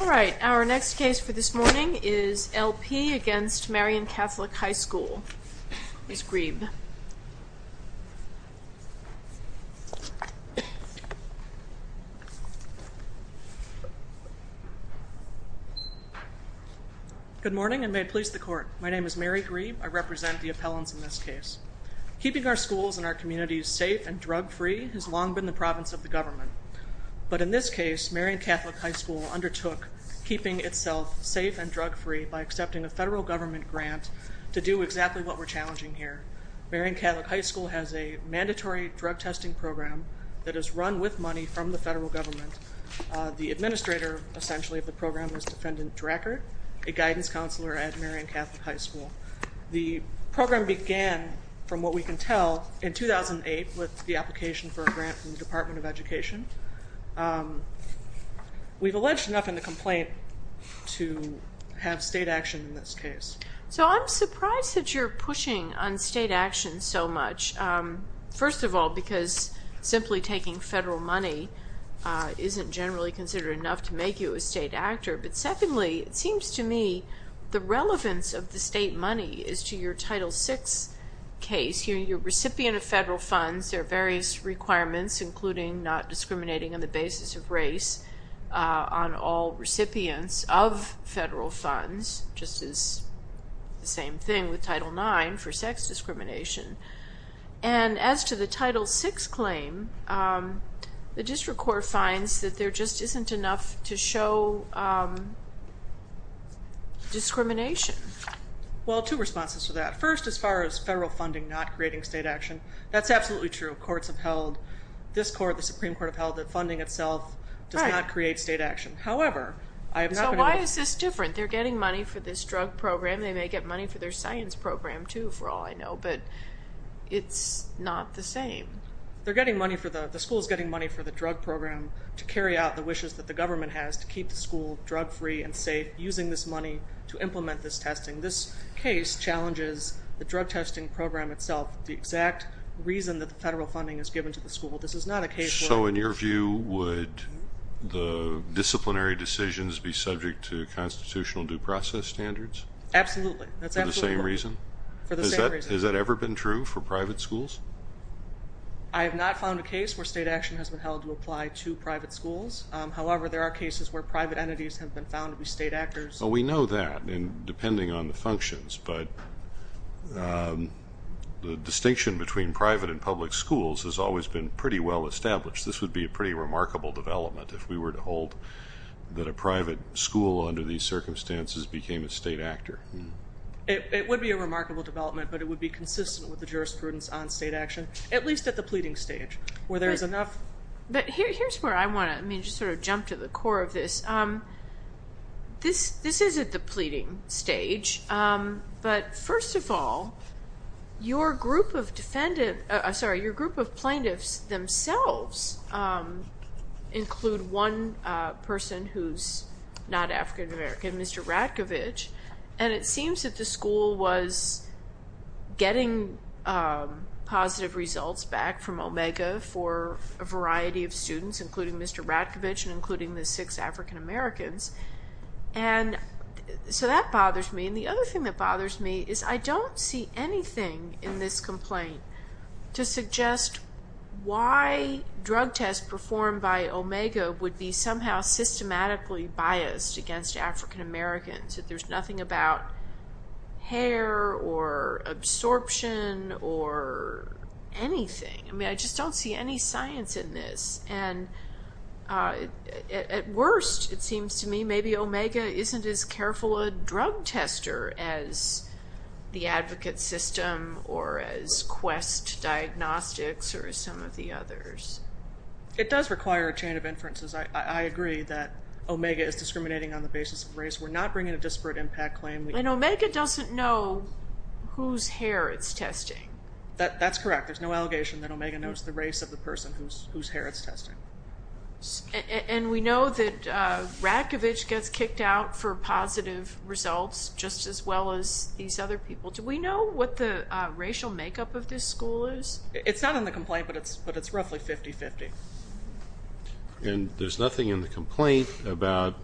All right. Our next case for this morning is L.P. v. Marian Catholic High School, Ms. Grieb. Good morning and may it please the Court. My name is Mary Grieb. I represent the appellants in this case. Keeping our schools and our communities safe and drug-free has long been the province of the government. But in this case, Marian Catholic High School undertook keeping itself safe and drug-free by accepting a federal government grant to do exactly what we're challenging here. Marian Catholic High School has a mandatory drug testing program that is run with money from the federal government. The administrator, essentially, of the program is Defendant Drackert, a guidance counselor at Marian Catholic High School. The program began, from what we can tell, in 2008 with the application for a grant from the Department of Education. We've alleged enough in the complaint to have state action in this case. So I'm surprised that you're pushing on state action so much. First of all, because simply taking federal money isn't generally considered enough to make you a state actor. But secondly, it seems to me the relevance of the state money is to your Title VI case. You're a recipient of federal funds. There are various requirements, including not discriminating on the basis of race on all recipients of federal funds, just as the same thing with Title IX for sex discrimination. And as to the Title VI claim, the district court finds that there just isn't enough to show discrimination. Well, two responses to that. First, as far as federal funding not creating state action, that's absolutely true. Courts have held, this court, the Supreme Court, have held that funding itself does not create state action. However, I have not been able to... So why is this different? They're getting money for this drug program. They may get money for their science program, too, for all I know, but it's not the same. They're getting money for the... The school's getting money for the drug program to carry out the wishes that the government has to keep the school drug-free and safe, using this money to implement this testing. This case challenges the drug testing program itself, the exact reason that the federal funding is given to the school. This is not a case where... So in your view, would the disciplinary decisions be subject to constitutional due process standards? Absolutely. That's absolutely correct. For the same reason? For the same reason. Has that ever been true for private schools? I have not found a case where state action has been held to apply to private schools. However, there are cases where private entities have been found to be state actors. We know that, depending on the functions, but the distinction between private and public schools has always been pretty well established. This would be a pretty remarkable development if we were to hold that a private school under these circumstances became a state actor. It would be a remarkable development, but it would be consistent with the jurisprudence on state action, at least at the pleading stage, where there's enough... Here's where I want to... I mean, just sort of jump to the core of this. This is at the pleading stage, but first of all, your group of plaintiffs themselves include one person who's not African-American, Mr. Ratkovich, and it seems that the school was getting positive results back from Omega for a variety of students, including Mr. Ratkovich and including the six African-Americans, and so that bothers me, and the other thing that bothers me is I don't see anything in this complaint to suggest why drug tests performed by Omega would be somehow systematically biased against African-Americans, that there's nothing about hair or absorption or anything. I mean, I just don't see any science in this, and at worst, it seems to me maybe Omega isn't as careful a drug tester as the advocate system or as Quest Diagnostics or as some of the others. It does require a chain of inferences. I agree that Omega is discriminating on the basis of race. We're not bringing a disparate impact claim. And Omega doesn't know whose hair it's testing. That's correct. There's no allegation that Omega knows the race of the person whose hair it's testing. And we know that Ratkovich gets kicked out for positive results, just as well as these other people. Do we know what the racial makeup of this school is? It's not in the complaint, but it's roughly 50-50. And there's nothing in the complaint about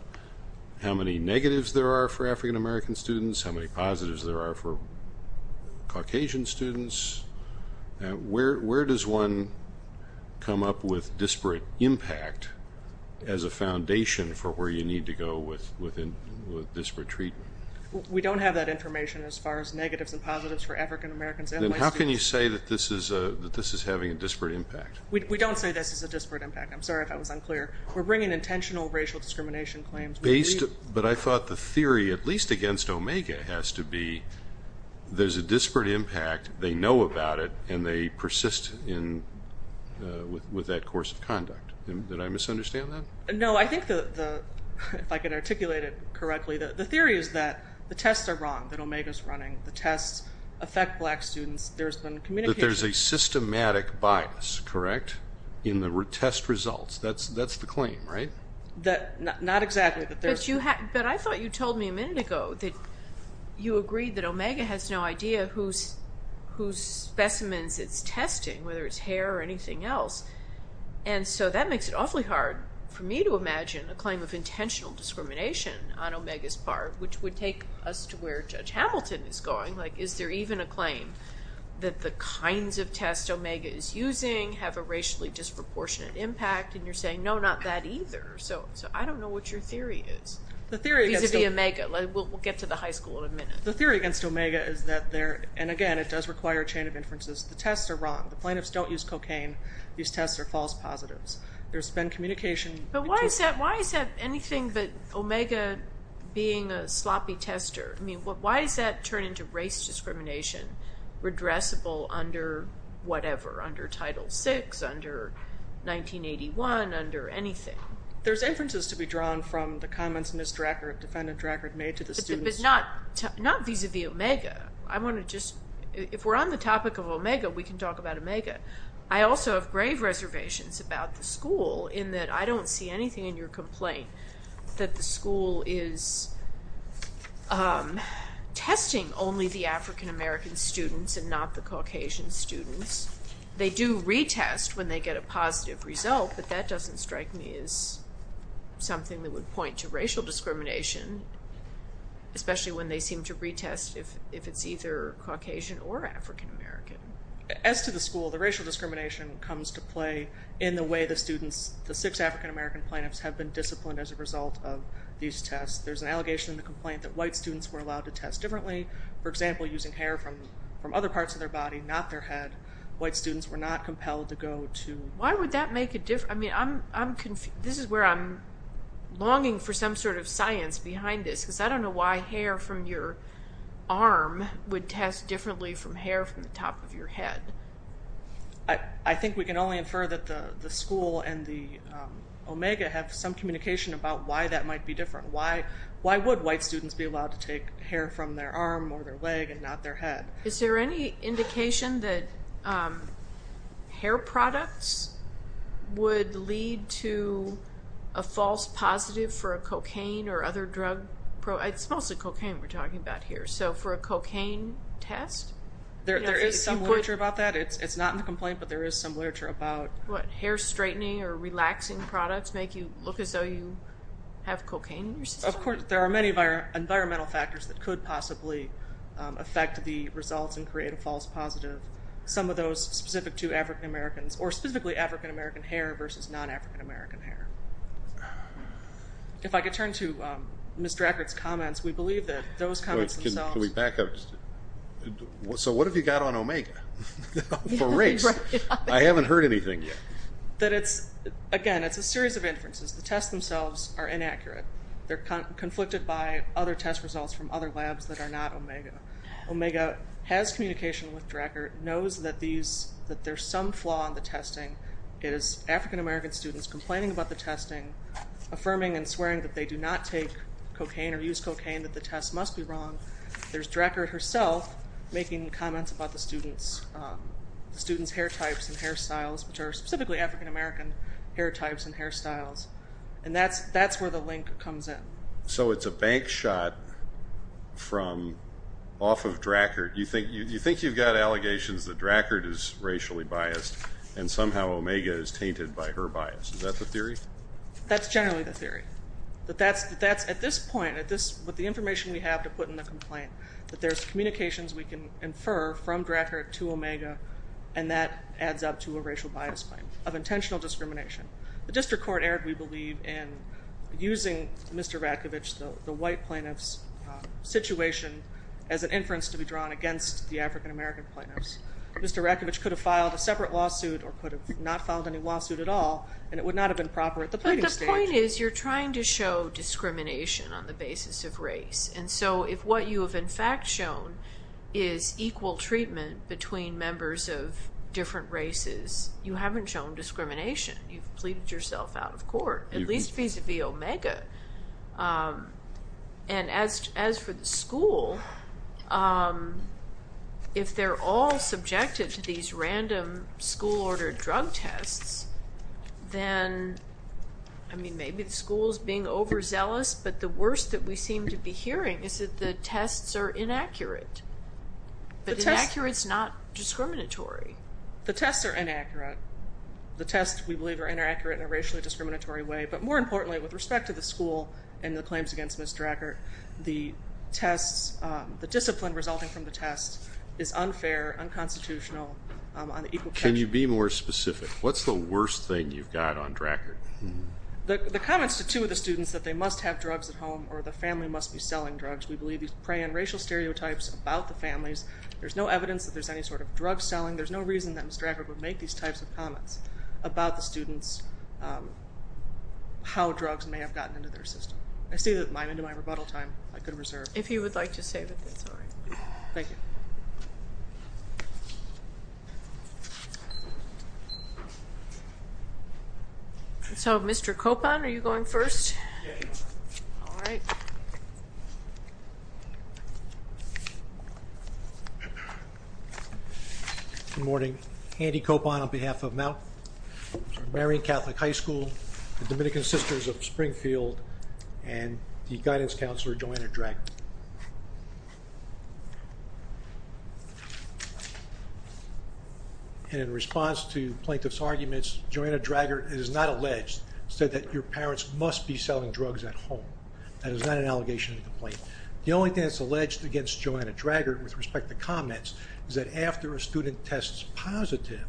how many negatives there are for African-American students, how many positives there are for Caucasian students. Where does one come up with disparate impact as a foundation for where you need to go with disparate treatment? We don't have that information as far as negatives and positives for African-Americans and white students. How can you say that this is having a disparate impact? We don't say this is a disparate impact. I'm sorry if I was unclear. We're bringing intentional racial discrimination claims. But I thought the theory, at least against Omega, has to be there's a disparate impact, they know about it, and they persist with that course of conduct. Did I misunderstand that? No. I think, if I can articulate it correctly, the theory is that the tests are wrong, that Omega's running. The tests affect black students. There's been communication. That there's a systematic bias, correct, in the test results. That's the claim, right? Not exactly. But I thought you told me a minute ago that you agreed that Omega has no idea whose specimens it's testing, whether it's hair or anything else. And so that makes it awfully hard for me to imagine a claim of intentional discrimination on Omega's part, which would take us to where Judge Hamilton is going. Is there even a claim that the kinds of tests Omega is using have a racially disproportionate impact? And you're saying, no, not that either. So I don't know what your theory is, vis-a-vis Omega. We'll get to the high school in a minute. The theory against Omega is that they're, and again, it does require a chain of inferences, the tests are wrong. The plaintiffs don't use cocaine. These tests are false positives. There's been communication. But why is that anything but Omega being a sloppy tester? Why does that turn into race discrimination, redressable under whatever? Under Title VI, under 1981, under anything? There's inferences to be drawn from the comments Ms. Drackert, Defendant Drackert, made to the students. But not vis-a-vis Omega. I want to just, if we're on the topic of Omega, we can talk about Omega. I also have grave reservations about the school in that I don't see anything in your complaint that the school is testing only the African-American students and not the Caucasian students. They do retest when they get a positive result, but that doesn't strike me as something that would point to racial discrimination, especially when they seem to retest if it's either Caucasian or African-American. As to the school, the racial discrimination comes to play in the way the students, the six African-American plaintiffs, have been disciplined as a result of these tests. There's an allegation in the complaint that white students were allowed to test differently. For example, using hair from other parts of their body, not their head. White students were not compelled to go to... Why would that make a difference? I mean, I'm confused. This is where I'm longing for some sort of science behind this, because I don't know why hair from your arm would test differently from hair from the top of your head. I think we can only infer that the school and the Omega have some communication about why that might be different. Why would white students be allowed to take hair from their arm or their leg and not their head? Is there any indication that hair products would lead to a false positive for a cocaine or other drug? It's mostly cocaine we're talking about here. So for a cocaine test? There is some literature about that. It's not in the complaint, but there is some literature about... What, hair straightening or relaxing products make you look as though you have cocaine in your system? Of course. There are many environmental factors that could possibly affect the results and create a false positive. Some of those specific to African-Americans, or specifically African-American hair versus non-African-American hair. If I could turn to Ms. Drackert's comments, we believe that those comments themselves... Can we back up? So what have you got on Omega? For race? I haven't heard anything yet. That it's, again, it's a series of inferences. The tests themselves are inaccurate. They're conflicted by other test results from other labs that are not Omega. It is African-American students complaining about the testing, affirming and swearing that they do not take cocaine or use cocaine, that the tests must be wrong. There's Drackert herself making comments about the students' hair types and hairstyles, which are specifically African-American hair types and hairstyles. And that's where the link comes in. So it's a bank shot from off of Drackert. You think you've got allegations that Drackert is racially biased and somehow Omega is tainted by her bias. Is that the theory? That's generally the theory. At this point, with the information we have to put in the complaint, that there's communications we can infer from Drackert to Omega, and that adds up to a racial bias claim of intentional discrimination. The district court erred, we believe, in using Mr. Rakovich, the white plaintiff's situation, as an inference to be drawn against the African-American plaintiffs. Mr. Rakovich could have filed a separate lawsuit or could have not filed any lawsuit at all, and it would not have been proper at the pleading stage. But the point is, you're trying to show discrimination on the basis of race. And so if what you have in fact shown is equal treatment between members of different races, you haven't shown discrimination. You've pleaded yourself out of court, at least vis-a-vis Omega. And as for the school, if they're all subjected to these random school-ordered drug tests, then, I mean, maybe the school's being overzealous, but the worst that we seem to be hearing is that the tests are inaccurate. But inaccurate's not discriminatory. The tests are inaccurate. The tests, we believe, are inaccurate in a racially discriminatory way. But more importantly, with respect to the school and the claims against Ms. Drackert, the tests, the discipline resulting from the tests, is unfair, unconstitutional. Can you be more specific? What's the worst thing you've got on Drackert? The comments to two of the students that they must have drugs at home or the family must be selling drugs. We believe these prey on racial stereotypes about the families. There's no evidence that there's any sort of drug selling. There's no reason that Ms. Drackert would make these types of comments about the students, how drugs may have gotten into their system. I see that I'm into my rebuttal time. I could reserve. If you would like to save it, that's all right. Thank you. So, Mr. Copon, are you going first? Yes. All right. Good morning. Andy Copon on behalf of Mary Catholic High School, the Dominican Sisters of Springfield, and the guidance counselor, Joanna Drackert. And in response to plaintiff's arguments, Joanna Drackert, it is not alleged, said that your parents must be selling drugs at home. That is not an allegation or complaint. The only thing that's alleged against Joanna Drackert with respect to comments is that after a student tests positive,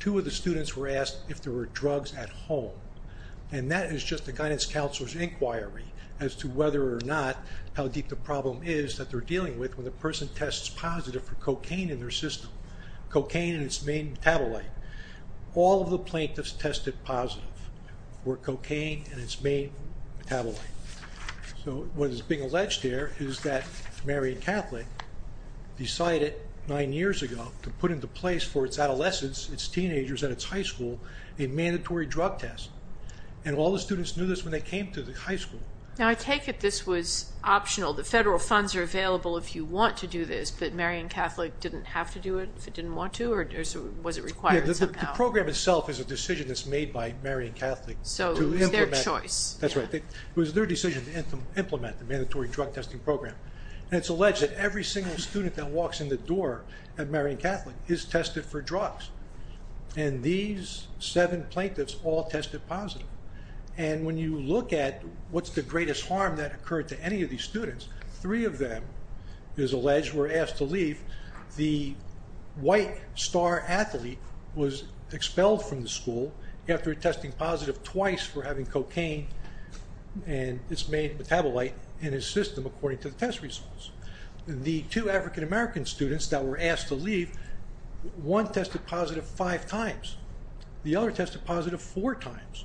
two of the students were asked if there were drugs at home. And that is just a guidance counselor's inquiry as to whether or not, how deep the problem is that they're dealing with when the person tests positive for cocaine in their system. Cocaine and its main metabolite. All of the plaintiffs tested positive for cocaine and its main metabolite. So what is being alleged here is that Mary Catholic decided nine years ago to put into place for its adolescents, its teenagers at its high school, a mandatory drug test. And all the students knew this when they came to the high school. Now, I take it this was optional. The federal funds are available if you want to do this, but Mary Catholic didn't have to do it if it didn't want to, or was it required somehow? The program itself is a decision that's made by Mary Catholic. So it was their choice. That's right. It was their decision to implement the mandatory drug testing program. And it's alleged that every single student that walks in the door at Mary Catholic is tested for drugs. And these seven plaintiffs all tested positive. And when you look at what's the greatest harm that occurred to any of these students, three of them, it is alleged, were asked to leave. The white star athlete was expelled from the school after testing positive twice for having cocaine, and it's made metabolite in his system according to the test results. The two African-American students that were asked to leave, one tested positive five times. The other tested positive four times.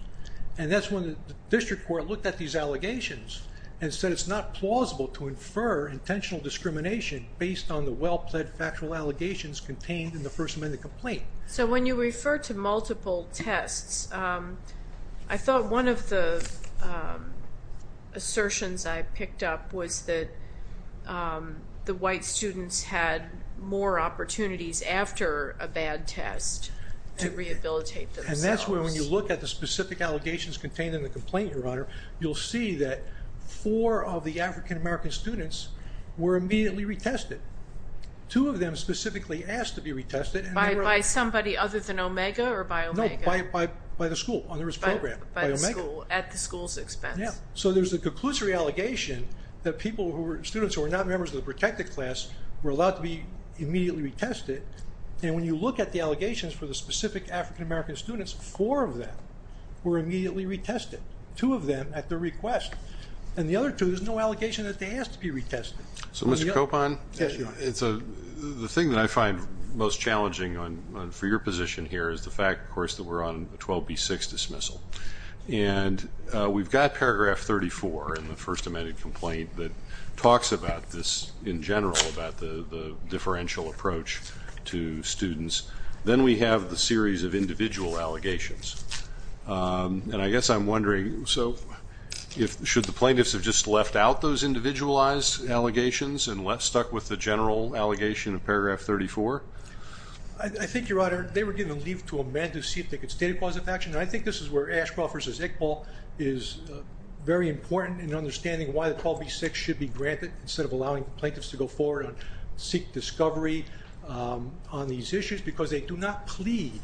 And that's when the district court looked at these allegations and said it's not plausible to infer intentional discrimination based on the well-plaid factual allegations contained in the First Amendment complaint. So when you refer to multiple tests, I thought one of the assertions I picked up was that the white students had more opportunities after a bad test to rehabilitate themselves. And that's where when you look at the specific allegations contained in the complaint, Your Honor, you'll see that four of the African-American students were immediately retested. Two of them specifically asked to be retested. By somebody other than Omega or by Omega? No, by the school, under its program. By the school, at the school's expense? Yeah. So there's a conclusory allegation that students who were not members of the protected class were allowed to be immediately retested. And when you look at the allegations for the specific African-American students, four of them were immediately retested, two of them at their request. And the other two, there's no allegation that they asked to be retested. So, Mr. Copon, the thing that I find most challenging for your position here is the fact, of course, that we're on a 12B6 dismissal. And we've got Paragraph 34 in the First Amendment complaint that talks about this in general, about the differential approach to students. Then we have the series of individual allegations. And I guess I'm wondering, so should the plaintiffs have just left out those individualized allegations and left stuck with the general allegation of Paragraph 34? I think, Your Honor, they were given leave to amend to see if they could state a cause of action. And I think this is where Ashcroft v. Iqbal is very important in understanding why the 12B6 should be granted instead of allowing plaintiffs to go forward and seek discovery on these issues because they do not plead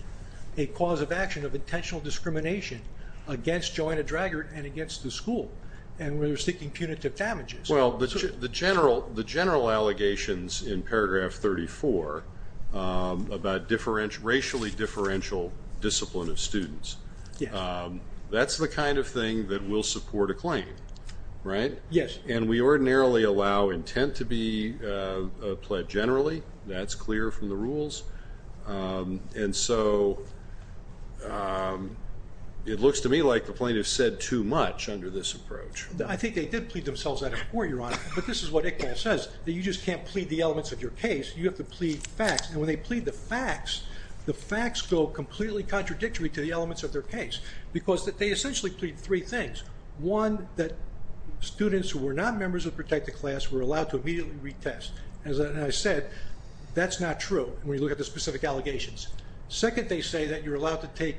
a cause of action of intentional discrimination against Joanna Draggart and against the school. And we're seeking punitive damages. Well, the general allegations in Paragraph 34 about racially differential discipline of students, that's the kind of thing that will support a claim, right? Yes. And we ordinarily allow intent to be pled generally. That's clear from the rules. And so it looks to me like the plaintiffs said too much under this approach. I think they did plead themselves out before, Your Honor. But this is what Iqbal says, that you just can't plead the elements of your case. You have to plead facts. And when they plead the facts, the facts go completely contradictory to the elements of their case because they essentially plead three things. One, that students who were not members of protected class were allowed to immediately retest. As I said, that's not true when you look at the specific allegations. Second, they say that you're allowed to take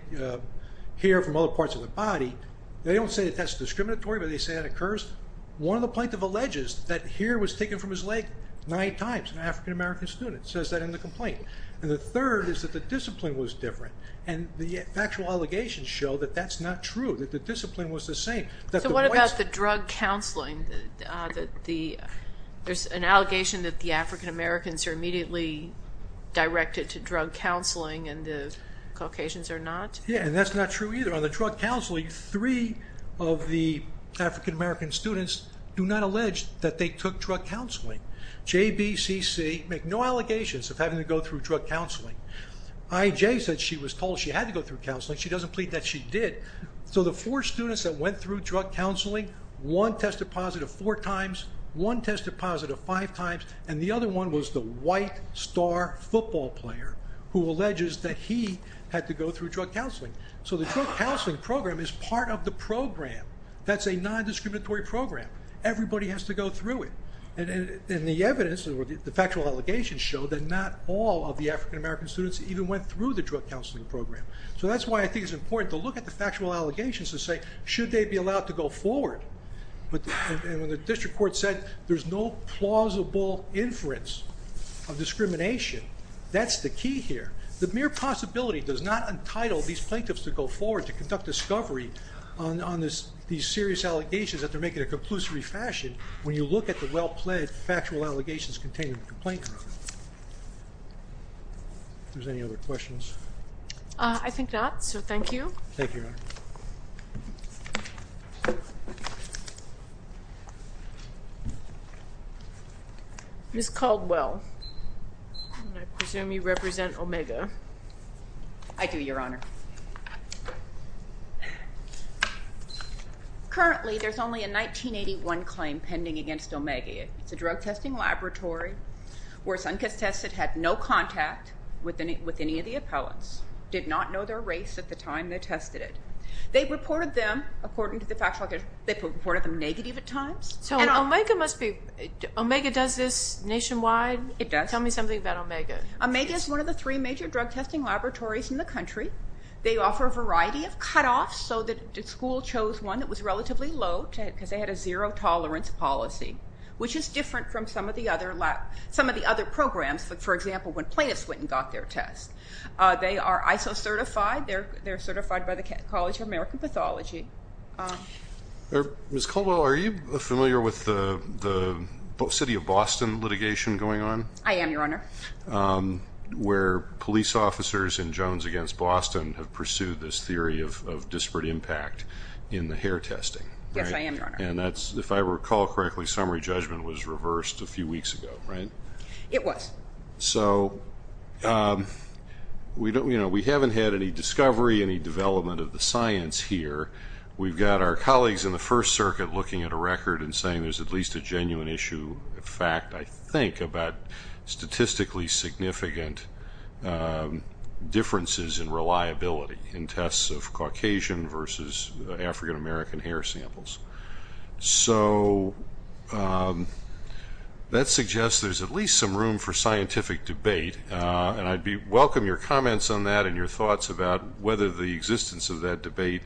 hair from other parts of the body. They don't say that that's discriminatory, but they say that occurs. One of the plaintiffs alleges that hair was taken from his leg nine times, an African-American student. It says that in the complaint. And the third is that the discipline was different. And the factual allegations show that that's not true, that the discipline was the same. So what about the drug counseling? There's an allegation that the African-Americans are immediately directed to drug counseling and the Caucasians are not? Yeah, and that's not true either. On the drug counseling, three of the African-American students do not allege that they took drug counseling. JBCC make no allegations of having to go through drug counseling. IJ said she was told she had to go through counseling. She doesn't plead that she did. So the four students that went through drug counseling, one tested positive four times, one tested positive five times, and the other one was the white star football player who alleges that he had to go through drug counseling. So the drug counseling program is part of the program. That's a non-discriminatory program. Everybody has to go through it. And the evidence, the factual allegations show that not all of the African-American students even went through the drug counseling program. So that's why I think it's important to look at the factual allegations to say, should they be allowed to go forward? And when the district court said there's no plausible inference of discrimination, that's the key here. The mere possibility does not entitle these plaintiffs to go forward to conduct discovery on these serious allegations that they're making in a conclusive fashion when you look at the well-planned factual allegations contained in the complaint. If there's any other questions. I think not, so thank you. Thank you, Your Honor. Ms. Caldwell, I presume you represent Omega. I do, Your Honor. Currently, there's only a 1981 claim pending against Omega. It's a drug testing laboratory where Sunkist Tested had no contact with any of the appellants, did not know their race at the time they tested it. They reported them, according to the factual allegations, they reported them negative at times. So Omega does this nationwide? It does. Tell me something about Omega. Omega is one of the three major drug testing laboratories in the country. They offer a variety of cutoffs, so the school chose one that was relatively low because they had a zero tolerance policy, which is different from some of the other programs. For example, when plaintiffs went and got their test, they are ISO certified. They're certified by the College of American Pathology. Ms. Caldwell, are you familiar with the city of Boston litigation going on? I am, Your Honor. Where police officers in Jones against Boston have pursued this theory of disparate impact in the hair testing. Yes, I am, Your Honor. And that's, if I recall correctly, summary judgment was reversed a few weeks ago, right? It was. So we haven't had any discovery, any development of the science here. We've got our colleagues in the First Circuit looking at a record and saying there's at least a genuine issue of fact, I think, about statistically significant differences in reliability in tests of Caucasian versus African-American hair samples. So that suggests there's at least some room for scientific debate, and I'd welcome your comments on that and your thoughts about whether the existence of that debate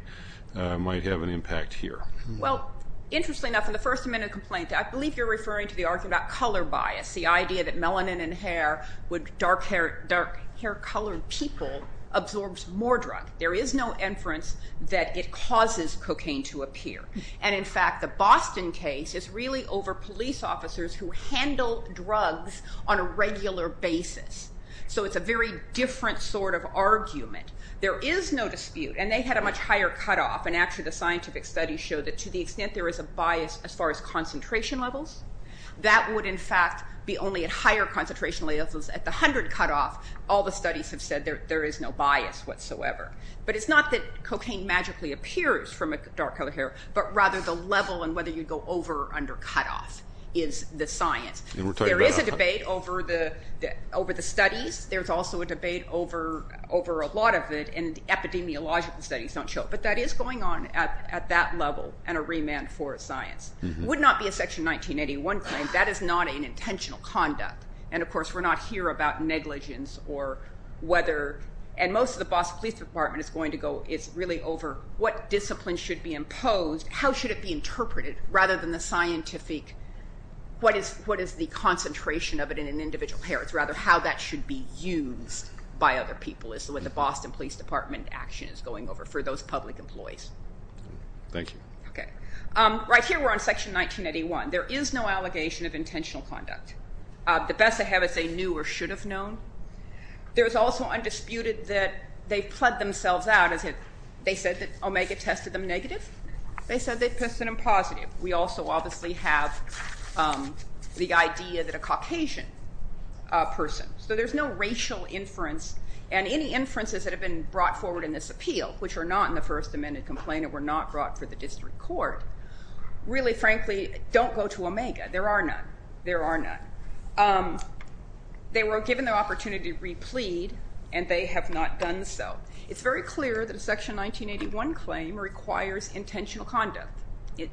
might have an impact here. Well, interestingly enough, in the first amendment complaint, I believe you're referring to the argument about color bias, the idea that melanin in hair with dark hair colored people absorbs more drug. There is no inference that it causes cocaine to appear. And, in fact, the Boston case is really over police officers who handle drugs on a regular basis. So it's a very different sort of argument. There is no dispute, and they had a much higher cutoff, and actually the scientific studies show that to the extent there is a bias as far as concentration levels, that would, in fact, be only at higher concentration levels. At the 100 cutoff, all the studies have said there is no bias whatsoever. But it's not that cocaine magically appears from dark colored hair, but rather the level and whether you go over or under cutoff is the science. There is a debate over the studies. There's also a debate over a lot of it, and epidemiological studies don't show it. But that is going on at that level and a remand for science. It would not be a Section 1981 claim. That is not an intentional conduct. And, of course, we're not here about negligence or whether and most of the Boston Police Department is really over what discipline should be imposed, how should it be interpreted rather than the scientific, what is the concentration of it in an individual hair. It's rather how that should be used by other people is what the Boston Police Department action is going over for those public employees. Thank you. Okay. Right here we're on Section 1981. There is no allegation of intentional conduct. The best they have is they knew or should have known. There is also undisputed that they've pled themselves out. They said that Omega tested them negative. They said they tested them positive. We also obviously have the idea that a Caucasian person. So there's no racial inference, and any inferences that have been brought forward in this appeal, which are not in the First Amendment complaint and were not brought for the district court, really, frankly, don't go to Omega. There are none. There are none. They were given the opportunity to replead, and they have not done so. It's very clear that a Section 1981 claim requires intentional conduct.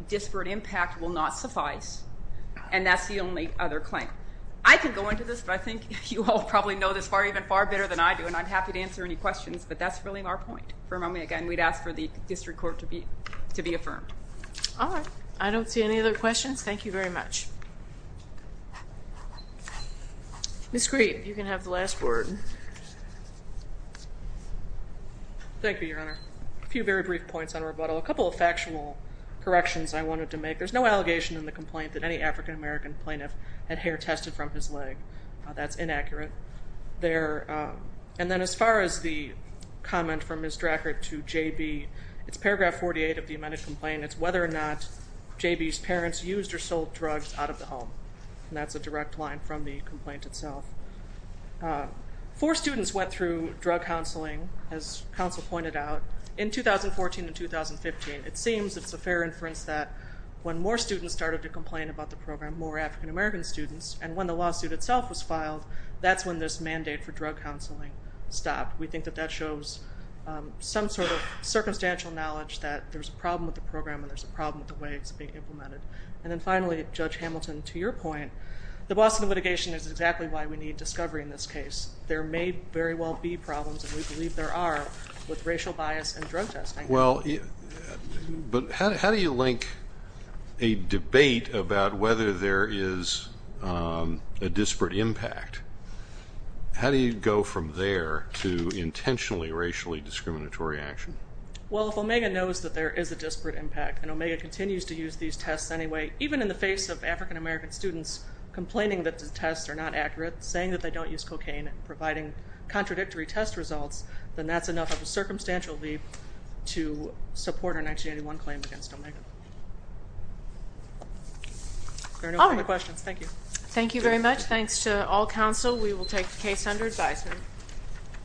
Disparate impact will not suffice, and that's the only other claim. I can go into this, but I think you all probably know this even far better than I do, and I'm happy to answer any questions, but that's really our point. For a moment, again, we'd ask for the district court to be affirmed. All right. I don't see any other questions. Thank you very much. Ms. Green, you can have the last word. Thank you, Your Honor. A few very brief points on rebuttal. A couple of factual corrections I wanted to make. There's no allegation in the complaint that any African-American plaintiff had hair tested from his leg. That's inaccurate. And then as far as the comment from Ms. Drackert to J.B., it's paragraph 48 of the amended complaint. It's whether or not J.B.'s parents used or sold drugs out of the home, and that's a direct line from the complaint itself. Four students went through drug counseling, as counsel pointed out, in 2014 and 2015. It seems it's a fair inference that when more students started to complain about the program, and when the lawsuit itself was filed, that's when this mandate for drug counseling stopped. We think that that shows some sort of circumstantial knowledge that there's a problem with the program and there's a problem with the way it's being implemented. And then finally, Judge Hamilton, to your point, the Boston litigation is exactly why we need discovery in this case. There may very well be problems, and we believe there are, with racial bias and drug testing. Well, but how do you link a debate about whether there is a disparate impact? How do you go from there to intentionally racially discriminatory action? Well, if Omega knows that there is a disparate impact and Omega continues to use these tests anyway, even in the face of African-American students complaining that the tests are not accurate, saying that they don't use cocaine and providing contradictory test results, then that's enough of a circumstantial leap to support our 1981 claim against Omega. Are there any other questions? Thank you. Thank you very much. Thanks to all counsel. We will take the case under advisement.